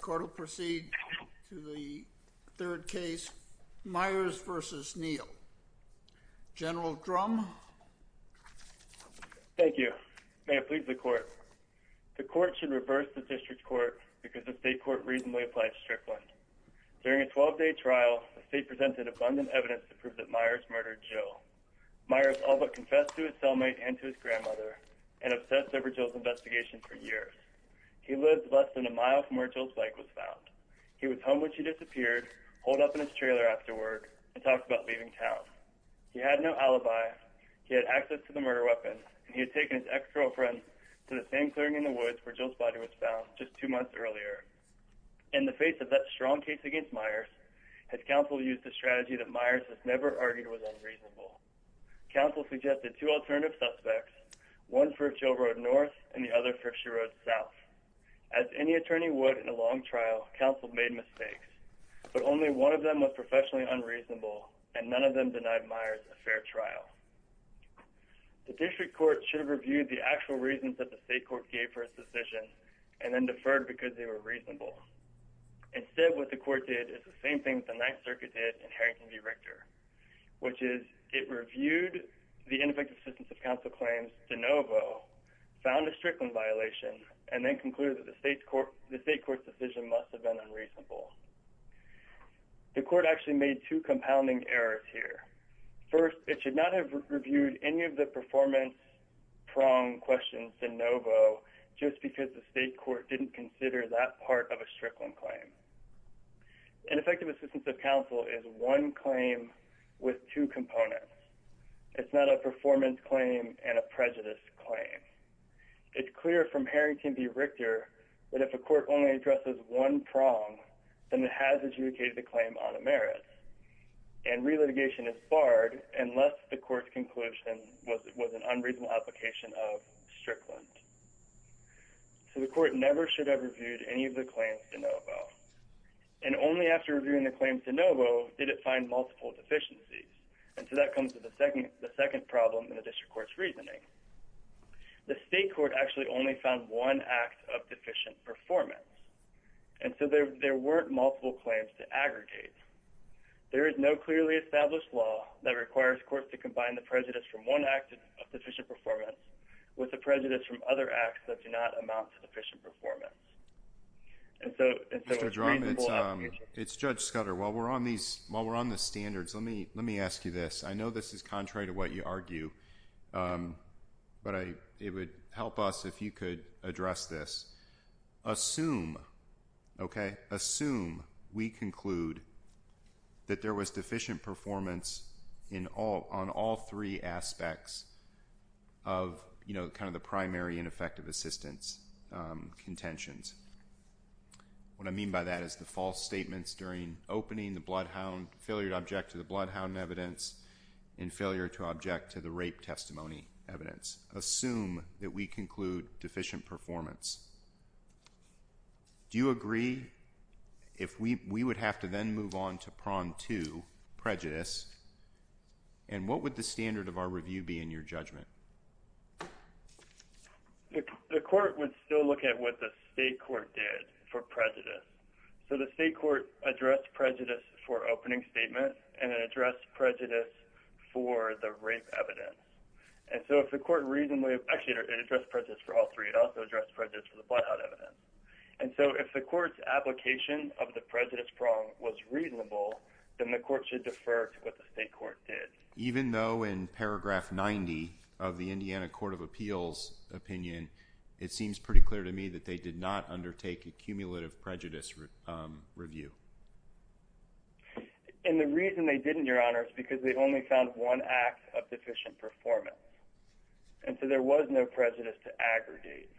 Court will proceed to the third case, Myers v. Neal. General Drum. Thank you. May it please the court. The court should reverse the district court because the state court reasonably applied Strickland. During a 12-day trial, the state presented abundant evidence to prove that Myers murdered Jill. Myers all but confessed to his cellmate and to his grandmother and obsessed over Jill's where Jill's bike was found. He was home when she disappeared, holed up in his trailer afterward, and talked about leaving town. He had no alibi, he had access to the murder weapon, and he had taken his ex-girlfriend to the same clearing in the woods where Jill's body was found just two months earlier. In the face of that strong case against Myers, his counsel used a strategy that Myers has never argued was unreasonable. Counsel suggested two alternative suspects, one for Jill Road North and the other for Jill Road South. As any attorney would in a long trial, counsel made mistakes, but only one of them was professionally unreasonable and none of them denied Myers a fair trial. The district court should have reviewed the actual reasons that the state court gave for its decision and then deferred because they were reasonable. Instead what the court did is the same thing the Ninth Circuit did in Harington v. Richter, which is it reviewed the ineffective assistance of counsel claims de novo, found a Strickland violation, and then concluded that the state court decision must have been unreasonable. The court actually made two compounding errors here. First, it should not have reviewed any of the performance prong questions de novo just because the state court didn't consider that part of a Strickland claim. Ineffective assistance of counsel is one claim with two claims. It's clear from Harington v. Richter that if a court only addresses one prong, then it has adjudicated the claim on a merit, and re-litigation is barred unless the court's conclusion was an unreasonable application of Strickland. So the court never should have reviewed any of the claims de novo, and only after reviewing the claims de novo did it find multiple deficiencies, and so that comes to the second problem in the district court's The state court actually only found one act of deficient performance, and so there weren't multiple claims to aggregate. There is no clearly established law that requires courts to combine the prejudice from one act of deficient performance with the prejudice from other acts that do not amount to deficient performance. And so, and so it's reasonable. It's Judge Scudder. While we're on these, while we're on the standards, let me let me ask you this. I know this is contrary to what you argue, but it would help us if you could address this. Assume, okay, assume we conclude that there was deficient performance in all, on all three aspects of, you know, kind of the primary ineffective assistance contentions. What I mean by that is the false statements during opening the case are contrary to object to the rape testimony evidence. Assume that we conclude deficient performance. Do you agree if we, we would have to then move on to prong to prejudice, and what would the standard of our review be in your judgment? The court would still look at what the state court did for prejudice. So the state court addressed prejudice for opening statement, and it addressed prejudice for the rape evidence. And so if the court reasonably actually addressed prejudice for all three, it also addressed prejudice for the bloodhound evidence. And so if the court's application of the prejudice prong was reasonable, then the court should defer to what the state court did. Even though in paragraph 90 of the Indiana Court of Appeals opinion, it seems pretty clear to me that they did not undertake a cumulative prejudice review. And the reason they didn't, Your Honor, is because they only found one act of deficient performance. And so there was no prejudice to aggregate.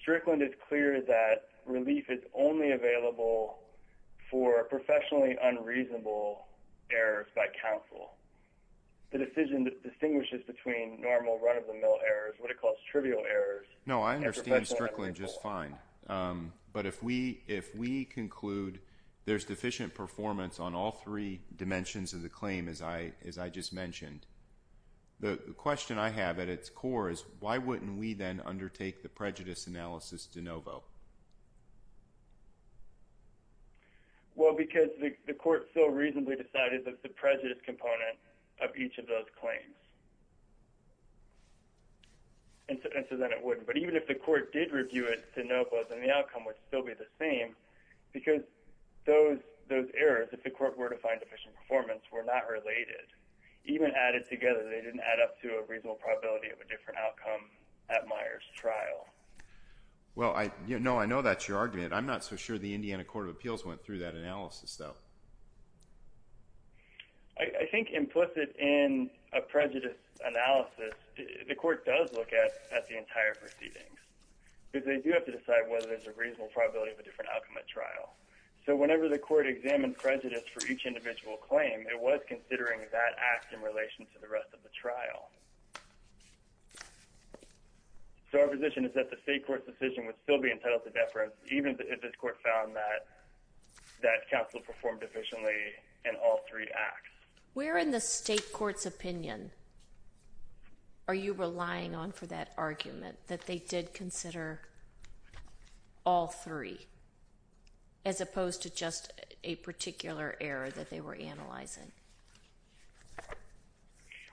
Strickland is clear that relief is only available for professionally unreasonable errors by counsel. The decision that distinguishes between normal run of the mill errors, what it calls trivial errors. No, I understand Strickland just fine. Um, but if we if we conclude there's deficient performance on all three dimensions of the claim, as I as I just mentioned, the question I have at its core is why wouldn't we then undertake the prejudice analysis to Novo? Well, because the court so reasonably decided that the prejudice component of each of those claims and so then it wouldn't. But even if the court did review it to Novo, then the outcome would still be the same. Because those those errors, if the court were to find efficient performance, were not related, even added together, they didn't add up to a reasonable probability of a different outcome at Myers trial. Well, I know I know that's your argument. I'm not so sure the Indiana Court of Appeals went through that analysis, though. I think implicit in a prejudice analysis, the court does look at at the entire proceedings because they do have to decide whether there's a reasonable probability of a different outcome at trial. So whenever the court examined prejudice for each individual claim, it was considering that act in relation to the rest of the trial. So our position is that the state court decision would still be entitled to in all three acts. We're in the state court's opinion. Are you relying on for that argument that they did consider all three as opposed to just a particular error that they were analyzing?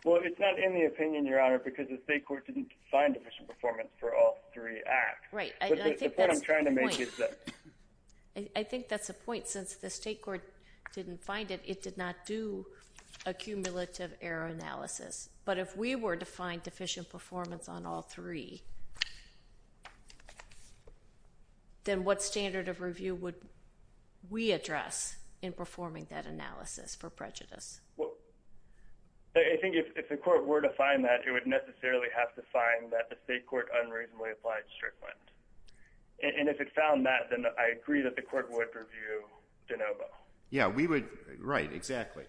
Well, it's not in the opinion, Your Honor, because the state court didn't find efficient performance for all three acts, right? I'm trying to make it. I think that's the point. Since the state court didn't find it, it did not do a cumulative error analysis. But if we were to find deficient performance on all three, then what standard of review would we address in performing that analysis for prejudice? I think if the court were to find that it would necessarily have to find that the state court unreasonably applied strictly. And if it found that, then I agree that the court would review de novo. Yeah, we would. Right. Exactly.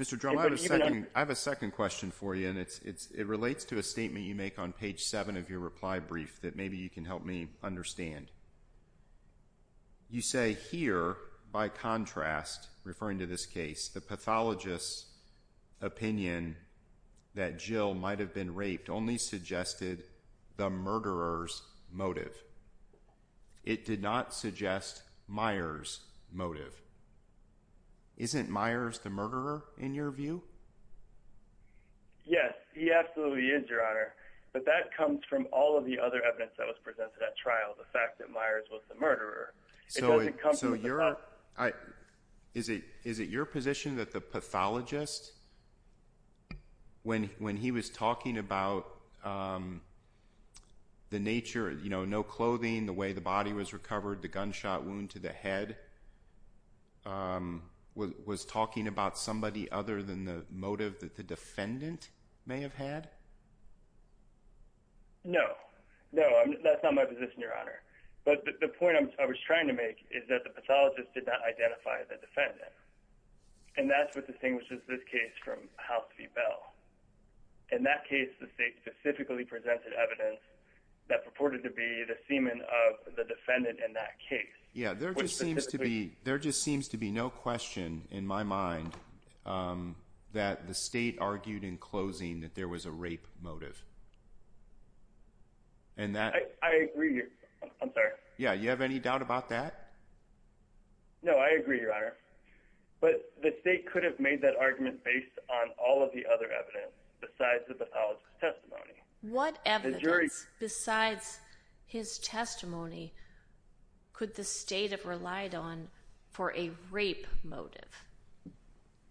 Mr. Drummond, I have a second question for you, and it's it relates to a statement you make on page seven of your reply brief that maybe you can help me understand. You say here, by contrast, referring to this case, the pathologist's opinion that Jill might have been raped only suggested the murderers motive. It did not suggest Myers motive. Isn't Myers the murderer in your view? Yes, he absolutely is, Your Honor. But that comes from all of the other evidence that was presented at trial. The fact that Myers was the murderer. So is it your position that the pathologist, when he was talking about the nature, you know, no clothing, the way the body was recovered, the gunshot wound to the head, um, was talking about somebody other than the motive that the defendant may have had? No, no, that's not my position, Your Honor. But the point I was trying to make is that the pathologist did not identify the defendant, and that's what distinguishes this case from House v. Bell. In that case, the state specifically presented evidence that purported to be the semen of the defendant in that case. Yeah, there just seems to be there just seems to be no question in my mind, um, that the state argued in closing that there was a rape motive. And that I agree. I'm sorry. Yeah. You have any doubt about that? No, I agree, Your Honor. But the state could have made that argument based on all of the other evidence besides the pathologist testimony. What evidence besides his testimony could the state have relied on for a rape motive?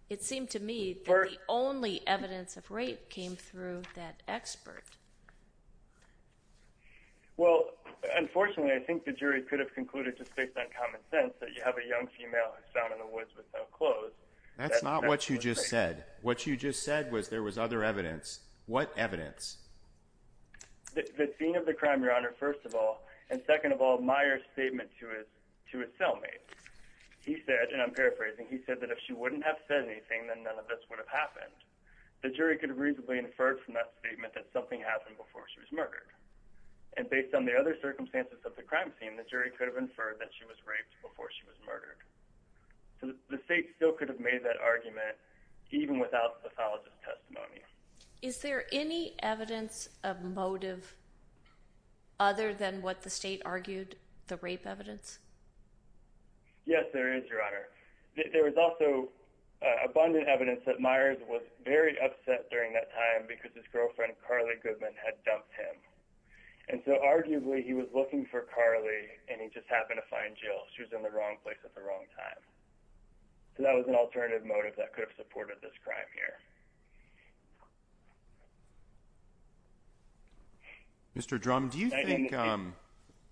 It seemed to me that the only evidence of rape came through that expert. Well, unfortunately, I think the jury could have concluded just based on common sense that you have a young female found in the woods with no clothes. That's not what you just said. What you just said was there was other evidence. What evidence? The scene of the crime, Your Honor, first of all, and second of all, statement to his to his cellmate, he said, and I'm paraphrasing, he said that if she wouldn't have said anything, then none of this would have happened. The jury could reasonably inferred from that statement that something happened before she was murdered. And based on the other circumstances of the crime scene, the jury could have inferred that she was raped before she was murdered. So the state still could have made that argument even without pathologist testimony. Is there any evidence of motive other than what the state argued the rape evidence? Yes, there is, Your Honor. There was also abundant evidence that Myers was very upset during that time because his girlfriend, Carly Goodman, had dumped him. And so arguably he was looking for Carly and he just happened to find Jill. She was in the wrong place at the wrong time. That was an alternative motive that could have supported this crime here. Mr. Drum, do you think,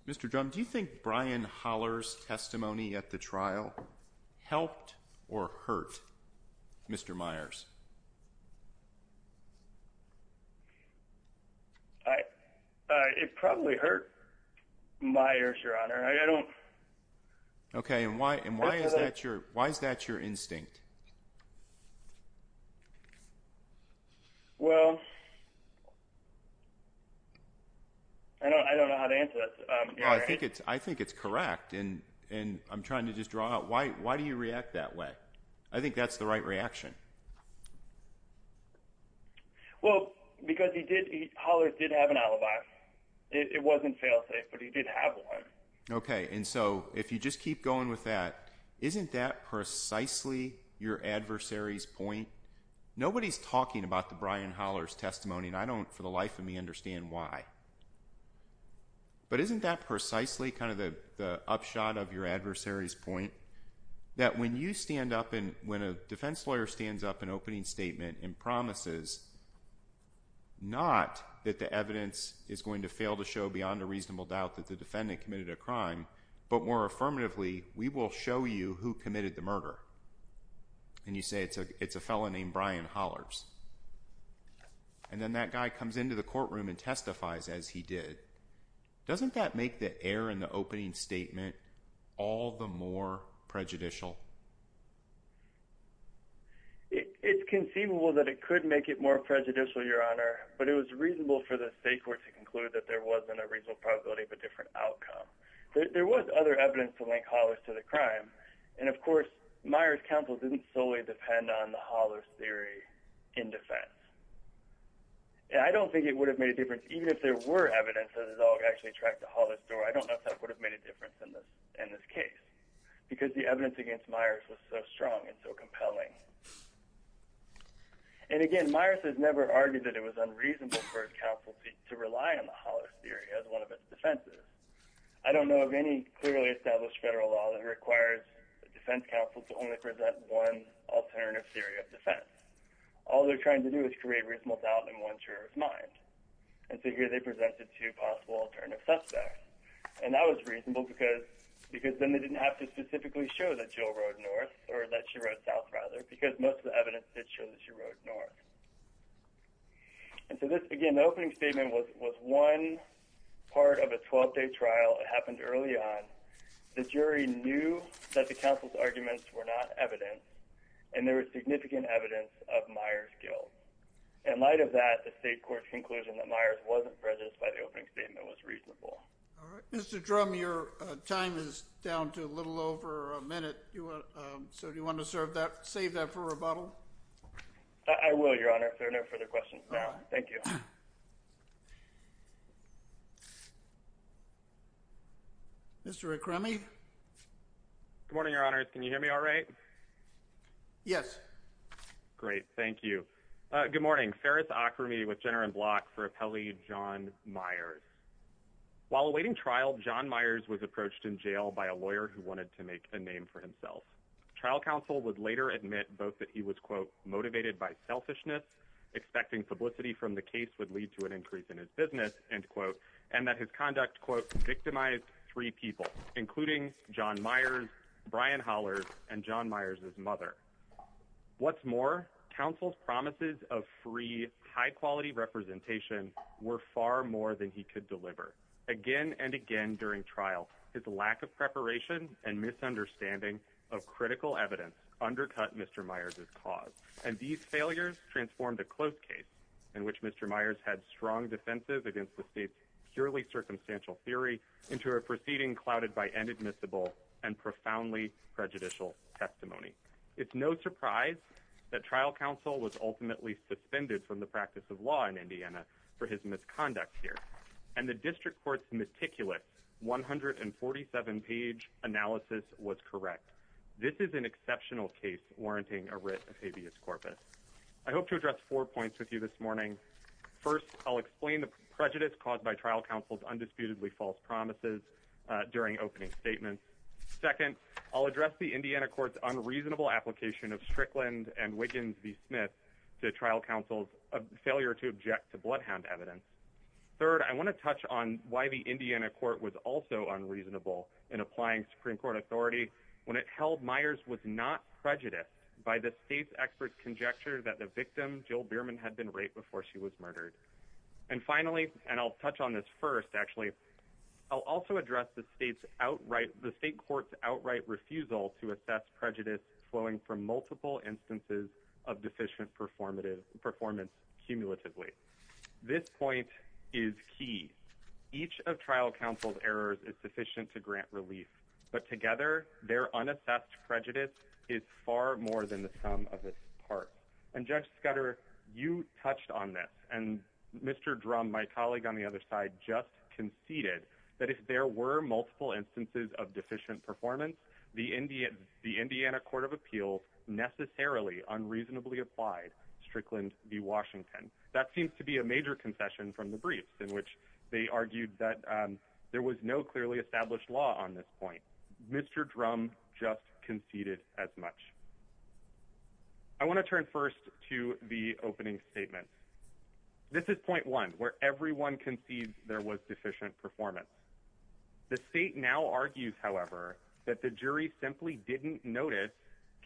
Mr. Drum, do you think Brian Holler's testimony at the trial helped or hurt Mr. Myers? It probably hurt Myers, Your Honor. I don't... Okay, and why is that your instinct? Well, I don't know how to answer that. I think it's correct and I'm trying to just draw out why do you react that way? I think that's the right reaction. Well, because Holler did have an alibi. It wasn't fail-safe, but he did have one. Okay, and so if you just keep going with that, isn't that nobody's talking about the Brian Holler's testimony and I don't, for the life of me, understand why. But isn't that precisely kind of the upshot of your adversary's point? That when you stand up and when a defense lawyer stands up and opening statement and promises, not that the evidence is going to fail to show beyond a reasonable doubt that the defendant committed a crime, but more affirmatively, we will show you who committed the murder. And you say it's a it's a felon named Brian Holler's. And then that guy comes into the courtroom and testifies as he did. Doesn't that make the error in the opening statement all the more prejudicial? It's conceivable that it could make it more prejudicial, Your Honor, but it was reasonable for the state court to conclude that there wasn't a reasonable probability of a different outcome. There was other evidence to link Holler's to the crime. And of course, Meyers' counsel didn't solely depend on the Holler's theory in defense. And I don't think it would have made a difference even if there were evidence that his dog actually tracked the Holler's door. I don't know if that would have made a difference in this case because the evidence against Meyers was so strong and so compelling. And again, Meyers has never argued that it was unreasonable for his counsel to rely on the Holler's theory as one of its defenses. I don't know of any clearly established federal law that requires a defense counsel to only present one alternative theory of defense. All they're trying to do is create reasonable doubt in one juror's mind. And so here they presented two possible alternative suspects. And that was reasonable because then they didn't have to specifically show that Jill rode north or that she rode south, rather, because most of the evidence did show that she rode north. And so this, again, the opening statement was one part of a 12-day trial. It happened early on. The jury knew that the counsel's arguments were not evidence. And there was significant evidence of Meyers' guilt. In light of that, the state court's conclusion that Meyers wasn't prejudiced by the opening statement was reasonable. All right. Mr. Drum, your time is down to a little over a minute. So do you want to save that for rebuttal? I will, Your Honor. If there are no further questions, no. Thank you. Mr. Akrami? Good morning, Your Honors. Can you hear me all right? Yes. Great. Thank you. Good morning. Ferris Akrami with Jenner & Block for appellee John Myers. While awaiting trial, John Myers was approached in jail by a lawyer who wanted to make a name for himself. Trial counsel would later admit both that he was, quote, motivated by selfishness, expecting publicity from the case would lead to an increase in his business, end quote, and that his conduct, quote, victimized three people, including John Myers, Brian Hollers, and John Myers' mother. What's more, counsel's promises of free, high-quality representation were far more than he could deliver. Again and again during trial, his lack of preparation and misunderstanding of critical evidence undercut Mr. Myers' cause, and these failures transformed a closed case in which Mr. Myers had strong defenses against the state's purely circumstantial theory into a proceeding clouded by inadmissible and profoundly prejudicial testimony. It's no surprise that trial counsel was ultimately suspended from the practice of law in Indiana for his misconduct here, and the district court's meticulous 147-page analysis was correct. This is an exceptional case warranting a writ of habeas corpus. I hope to address four points with you this morning. First, I'll explain the prejudice caused by trial counsel's undisputedly false promises during opening statements. Second, I'll address the Indiana court's unreasonable application of Strickland and Wiggins v. Smith to trial counsel's failure to object to bloodhound evidence. Third, I want to touch on why the Indiana court was also unreasonable in applying Supreme Court authority when it held Myers was not prejudiced by the state's expert conjecture that the victim, Jill Bierman, had been raped before she was murdered. And finally, and I'll touch on this first, actually, I'll also address the state court's outright refusal to assess prejudice flowing from multiple instances of deficient performance cumulatively. This point is key. Each of trial counsel's errors is sufficient to grant relief, but together, their unassessed prejudice is far more than the sum of its part. And Judge Scudder, you touched on this, and Mr. Drum, my colleague on the other side, just conceded that if there were multiple instances of deficient performance, the Indiana court of appeals necessarily unreasonably applied Strickland v. Washington. That seems to be a major concession from the briefs in which they argued that there was no clearly established law on this point. Mr. Drum just conceded as much. I want to turn first to the opening statement. This is point one, where everyone concedes there was deficient performance. The state now argues, however, that the jury simply didn't notice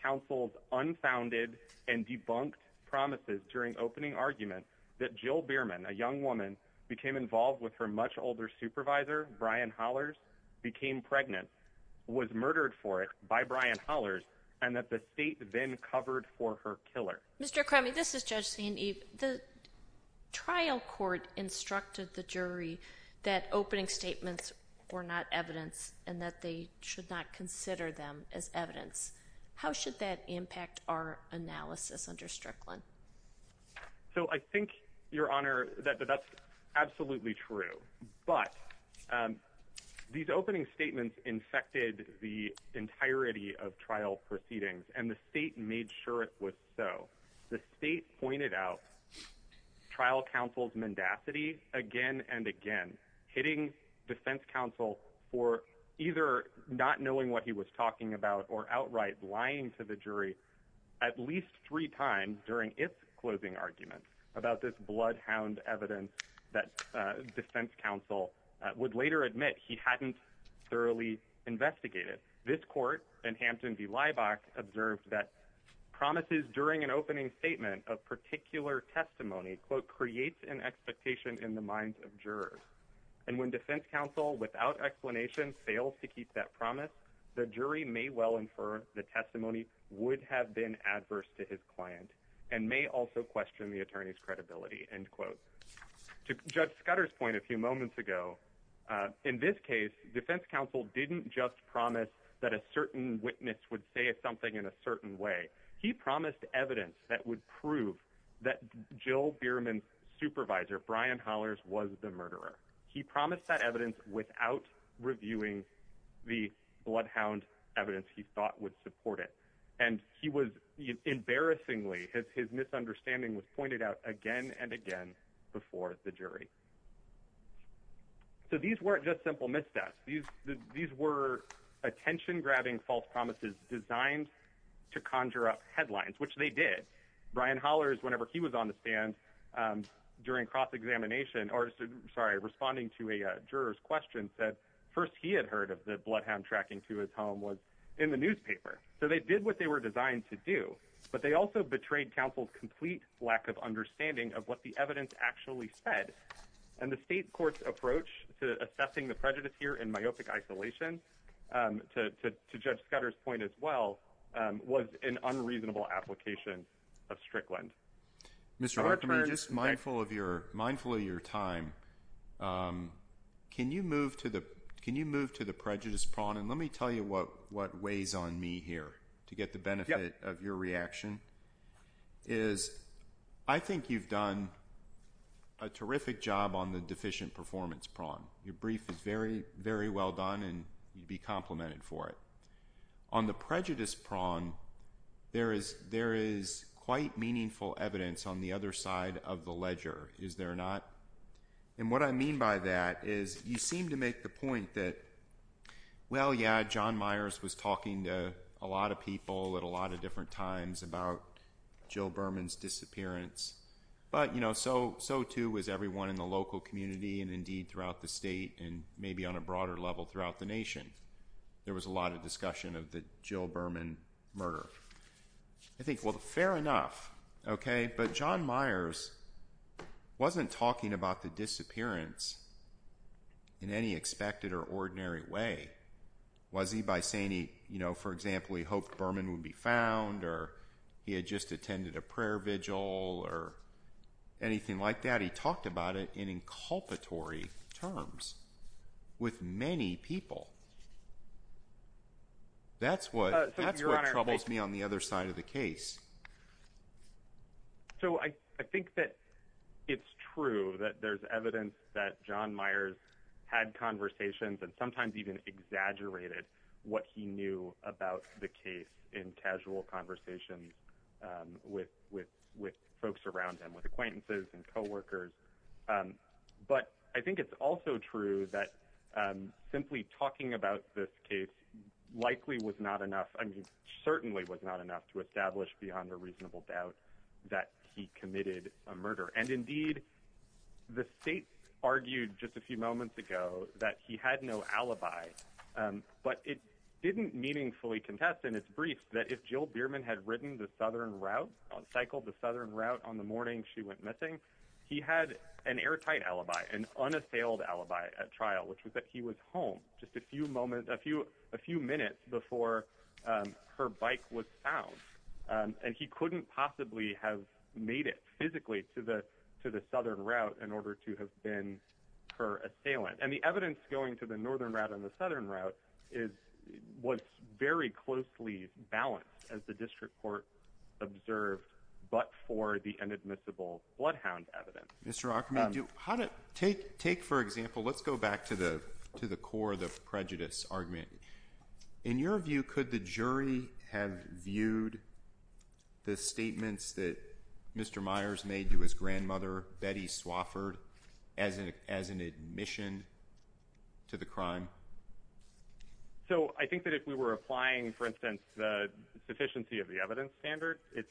counsel's unfounded and debunked promises during opening argument that Jill Bierman, a young woman, became involved with her much older supervisor, Brian Hollers, became pregnant, was murdered for it by Brian Hollers, and that the state then covered for her killer. Mr. Crammey, this is Judge St. Eve. The trial court instructed the jury that opening statements were not evidence and that they should not consider them as evidence. How should that impact our analysis under Strickland? So I think, Your Honor, that that's absolutely true, but these opening statements infected the entirety of trial proceedings and the state made sure it was so. The state pointed out trial counsel's mendacity again and again, hitting defense counsel for either not knowing what he was talking about or outright lying to the jury at least three times during its closing argument about this bloodhound evidence that defense counsel would later admit he hadn't thoroughly investigated. This court in Hampton v. Leibach observed that promises during an opening statement of particular testimony, quote, creates an expectation in the minds of jurors. And when defense counsel without explanation fails to keep that promise, the jury may well infer the testimony would have been adverse to his client and may also question the attorney's credibility, end quote. To Judge Scudder's point a few moments ago, in this case, defense counsel didn't just promise that a certain witness would say something in a certain way. He promised evidence that would prove that Jill Bierman's supervisor, Brian Hollers, was the murderer. He promised that evidence without reviewing the bloodhound evidence he thought would support it. And he was embarrassingly, his misunderstanding was pointed out again and again before the jury. So these weren't just simple missteps. These were attention-grabbing false promises designed to conjure up headlines, which they did. Brian Hollers, whenever he was on the stand during cross-examination, or sorry, responding to a juror's question, said first he had heard of the bloodhound tracking to his home was in the newspaper. So they did what they were designed to do. But they also betrayed counsel's complete lack of understanding of what the evidence actually said. And the state court's approach to assessing the prejudice here in myopic isolation, to Judge Scudder's point as well, was an unreasonable application of Strickland. Mr. Hartman, just mindful of your time, can you move to the prejudice prong, and let me tell you what weighs on me here to get the benefit of your reaction, is I think you've done a terrific job on the deficient performance prong. Your brief is very, very well done, and you'd be complimented for it. On the prejudice prong, there is quite meaningful evidence on the other side of the ledger, is there not? And what I mean by that is you seem to make the point that, well, yeah, John Myers was talking to a lot of people at a lot of different times about Jill Berman's disappearance. But, you know, so, too, was everyone in the local community and, indeed, throughout the state, and maybe on a broader level throughout the nation. There was a lot of discussion of the Jill Berman murder. I think, well, fair enough, okay? But John Myers wasn't talking about the disappearance in any expected or ordinary way. Was he by saying he, you know, for example, he hoped Berman would be found, or he had just attended a prayer vigil, or anything like that? He talked about it in inculpatory terms with many people. That's what troubles me on the other side of the case. So I think that it's true that there's evidence that John Myers had conversations and sometimes even exaggerated what he knew about the case in casual conversations with folks around him, with acquaintances and coworkers. But I think it's also true that simply talking about this case likely was not enough, I mean, certainly was not enough to establish beyond a reasonable doubt that he committed a murder. And, indeed, the state argued just a few moments ago that he had no alibi, but it didn't meaningfully contest in its brief that if Jill Berman had ridden the southern route, cycled the southern route on the morning she went missing, he had an airtight alibi, an unassailed alibi at trial, which was that he was home just a few moments, a few minutes before her bike was found, and he couldn't possibly have made it physically to the southern route in order to have been her assailant. And the evidence going to the northern route and the southern route was very closely balanced as the district court observed, but for the inadmissible bloodhound evidence. Mr. Archimonde, take, for example, let's go back to the core of the prejudice argument. In your view, could the jury have viewed the statements that Mr. Myers made to his grandmother, Betty Swofford, as an admission to the crime? So I think that if we were applying, for instance, the sufficiency of the evidence standard, it's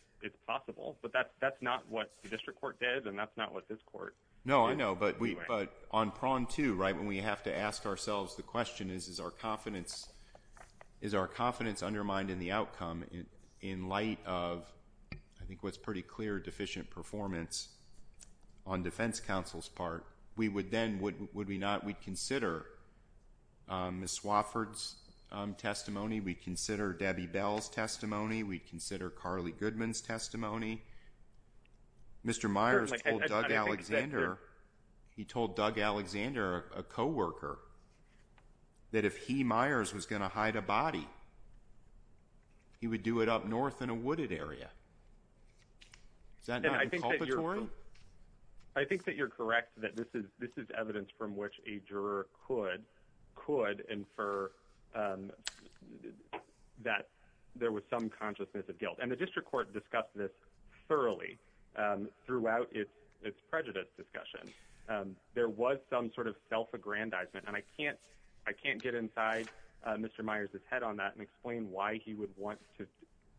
possible, but that's not what the district court did and that's not what this court did. No, I know, but on prong two, right, when we have to ask ourselves the question is, is our confidence undermined in the outcome in light of, I think, what's pretty clear deficient performance on defense counsel's part, we would then, would we not, we'd consider Ms. Swofford's testimony, we'd consider Debbie Bell's testimony, we'd consider Carly Goodman's testimony. Mr. Myers told Doug Alexander, he told Doug Alexander, a coworker, that if he, Myers, was gonna hide a body, he would do it up north in a wooded area. Is that not inculpatory? I think that you're correct that this is evidence from which a juror could infer that there was some consciousness of guilt. And the district court discussed this thoroughly throughout its prejudice discussion. There was some sort of self-aggrandizement and I can't get inside Mr. Myers' head on that and explain why he would want to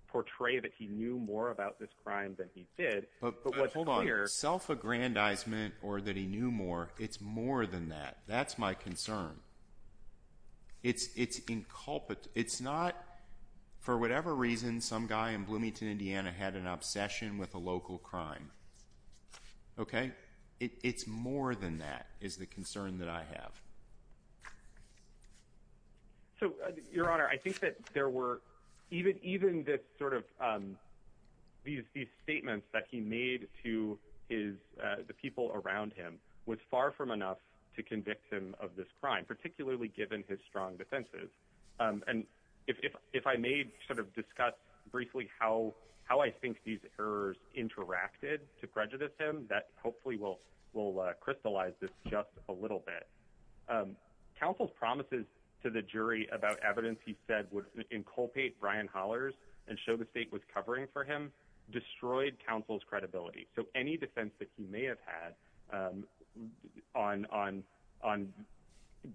portray that he knew more about this crime than he did, but what's clear- But hold on, self-aggrandizement or that he knew more, it's more than that, that's my concern. It's inculpable, it's not, for whatever reason, some guy in Bloomington, Indiana, had an obsession with a local crime, okay? It's more than that, is the concern that I have. So, Your Honor, I think that there were, even this sort of these statements that he made to the people around him was far from enough to convict him of this crime, particularly given his strong defenses. And if I may sort of discuss briefly how I think these errors interacted to prejudice him, that hopefully will crystallize this just a little bit. Counsel's promises to the jury about evidence he said would inculpate Brian Holler's and show the state was covering for him destroyed counsel's credibility. So any defense that he may have had on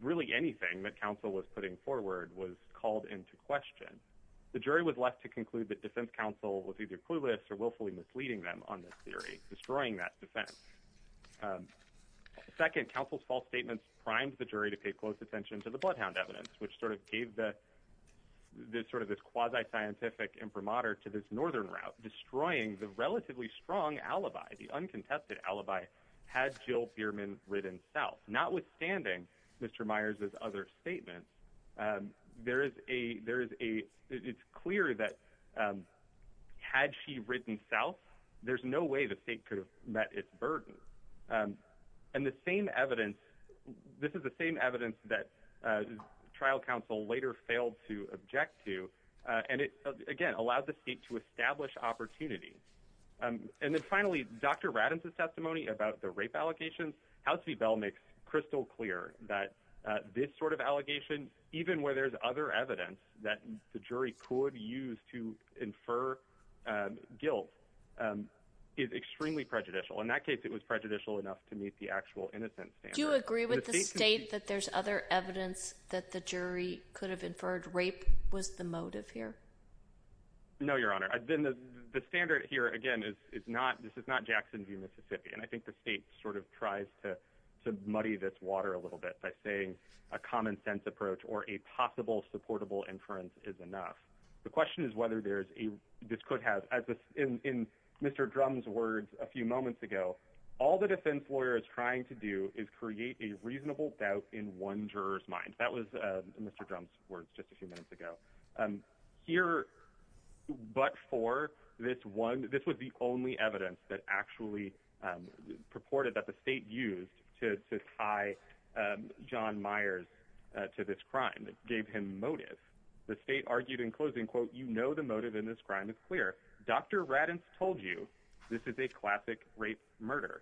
really anything that counsel was putting forward was called into question. The jury was left to conclude that defense counsel was either clueless or willfully misleading them on this theory, destroying that defense. Second, counsel's false statements primed the jury to pay close attention to the bloodhound evidence, which sort of gave this quasi-scientific imprimatur to this Northern route, destroying the relatively strong alibi, the uncontested alibi, had Jill Bierman ridden South. Notwithstanding Mr. Myers' other statements, it's clear that had she ridden South, there's no way the state could have met its burden. And the same evidence, this is the same evidence that trial counsel later failed to object to. And it, again, allowed the state to establish opportunity. And then finally, Dr. Radden's testimony about the rape allegations, House v. Bell makes crystal clear that this sort of allegation, even where there's other evidence that the jury could use to infer guilt is extremely prejudicial. In that case, it was prejudicial enough to meet the actual innocent standard. Do you agree with the state that there's other evidence that the jury could have inferred rape was the motive here? No, Your Honor. The standard here, again, this is not Jackson v. Mississippi. And I think the state sort of tries to muddy this water a little bit by saying a common sense approach or a possible supportable inference is enough. The question is whether this could have, in Mr. Drum's words a few moments ago, all the defense lawyer is trying to do is create a reasonable doubt in one juror's mind. That was Mr. Drum's words just a few minutes ago. Here, but for this one, this was the only evidence that actually purported that the state used to tie John Myers to this crime. It gave him motive. The state argued in closing, quote, you know the motive in this crime is clear. Dr. Raddatz told you this is a classic rape murder.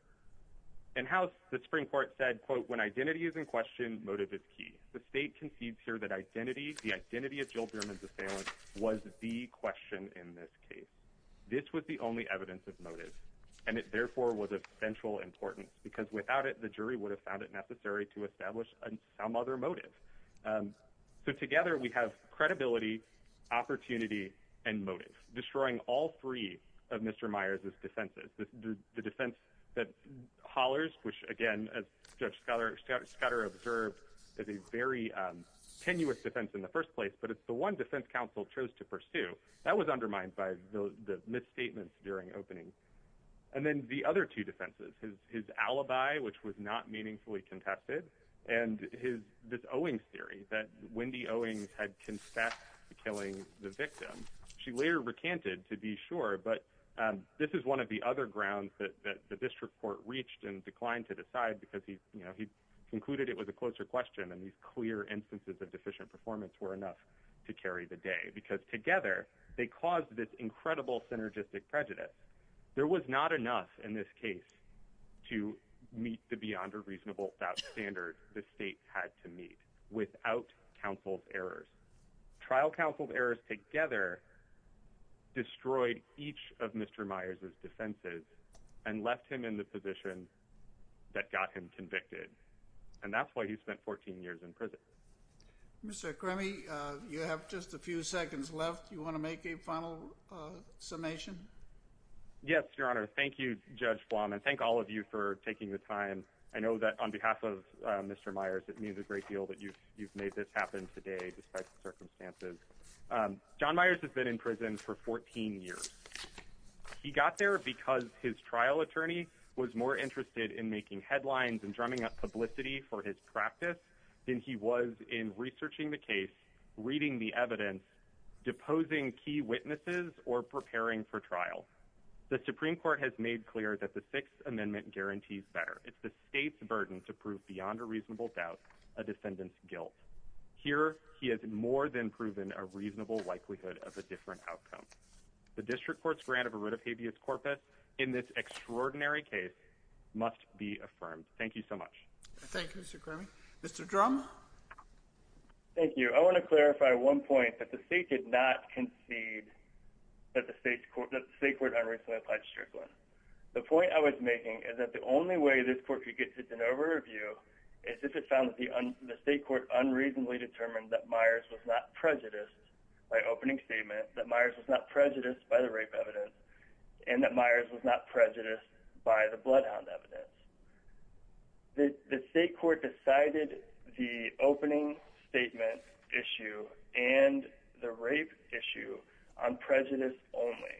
In house, the Supreme Court said, quote, when identity is in question, motive is key. The state concedes here that identity, the identity of Jill Berman's assailant was the question in this case. This was the only evidence of motive and it therefore was of central importance because without it, the jury would have found it necessary to establish some other motive. So together we have credibility, opportunity, and motive, destroying all three of Mr. Myers' defenses. The defense that hollers, which again, as Judge Scudder observed, is a very tenuous defense in the first place, but it's the one defense counsel chose to pursue. That was undermined by the misstatements during opening. And then the other two defenses, his alibi, which was not meaningfully contested, and this Owings theory that Wendy Owings had confessed to killing the victim. She later recanted to be sure, but this is one of the other grounds that the district court reached and declined to decide because he concluded it was a closer question and these clear instances of deficient performance were enough to carry the day because together they caused this incredible synergistic prejudice. There was not enough in this case to meet the beyond a reasonable doubt standard the state had to meet without counsel's errors. Trial counsel's errors together destroyed each of Mr. Myers' defenses and left him in the position that got him convicted. And that's why he spent 14 years in prison. Mr. Crammey, you have just a few seconds left. You want to make a final summation? Yes, Your Honor. Thank you, Judge Blum. And thank all of you for taking the time. I know that on behalf of Mr. Myers, it means a great deal that you've made this happen today despite the circumstances. John Myers has been in prison for 14 years. He got there because his trial attorney was more interested in making headlines and drumming up publicity for his practice than he was in researching the case, reading the evidence, deposing key witnesses, or preparing for trial. The Supreme Court has made clear that the Sixth Amendment guarantees better. It's the state's burden to prove beyond a reasonable doubt a defendant's guilt. Here, he has more than proven a reasonable likelihood of a different outcome. The district court's grant of a writ of habeas corpus in this extraordinary case must be affirmed. Thank you so much. Thank you, Mr. Crammey. Mr. Drum? Thank you. I want to clarify one point that the state did not concede that the state court unreasonably applied Strickland. The point I was making is that the only way this court could get such an over-review is if it found that the state court unreasonably determined that Myers was not prejudiced by opening statement, that Myers was not prejudiced by the rape evidence, and that Myers was not prejudiced by the bloodhound evidence. The state court decided the opening statement issue and the rape issue on prejudice only.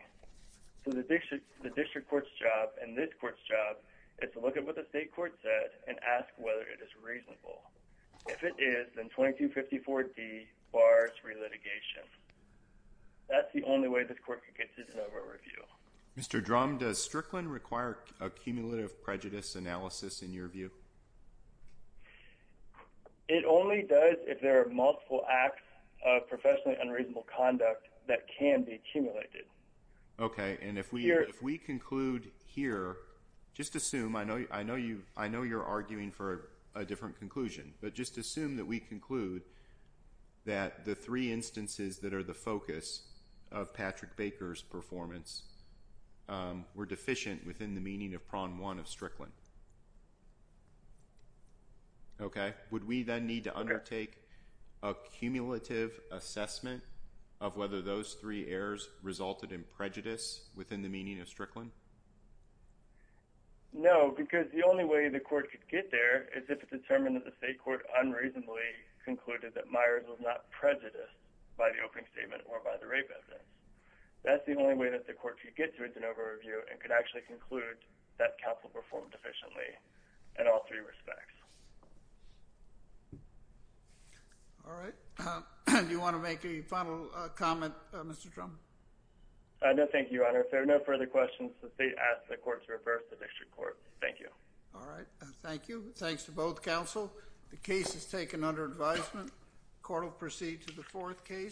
So the district court's job and this court's job is to look at what the state court said and ask whether it is reasonable. If it is, then 2254D bars relitigation. That's the only way this court could get such an over-review. Mr. Drum, does Strickland require a cumulative prejudice analysis in your view? It only does if there are multiple acts of professionally unreasonable conduct that can be accumulated. Okay, and if we conclude here, just assume, I know you're arguing for a different conclusion, but just assume that we conclude that the three instances that are the focus of Patrick Baker's performance were deficient within the meaning of prong one of Strickland. Okay, would we then need to undertake a cumulative assessment of whether those three errors resulted in prejudice within the meaning of Strickland? No, because the only way the court could get there is if it determined that the state court unreasonably concluded that Myers was not prejudiced by the opening statement or by the rape evidence. That's the only way that the court could get to an over-review and could actually conclude that counsel performed efficiently in all three respects. All right, do you want to make a final comment, Mr. Trump? No, thank you, Your Honor. If there are no further questions, the state asks the court to reverse the next record. Thank you. All right, thank you. Thanks to both counsel. The case is taken under advisement. Court will proceed to the fourth case.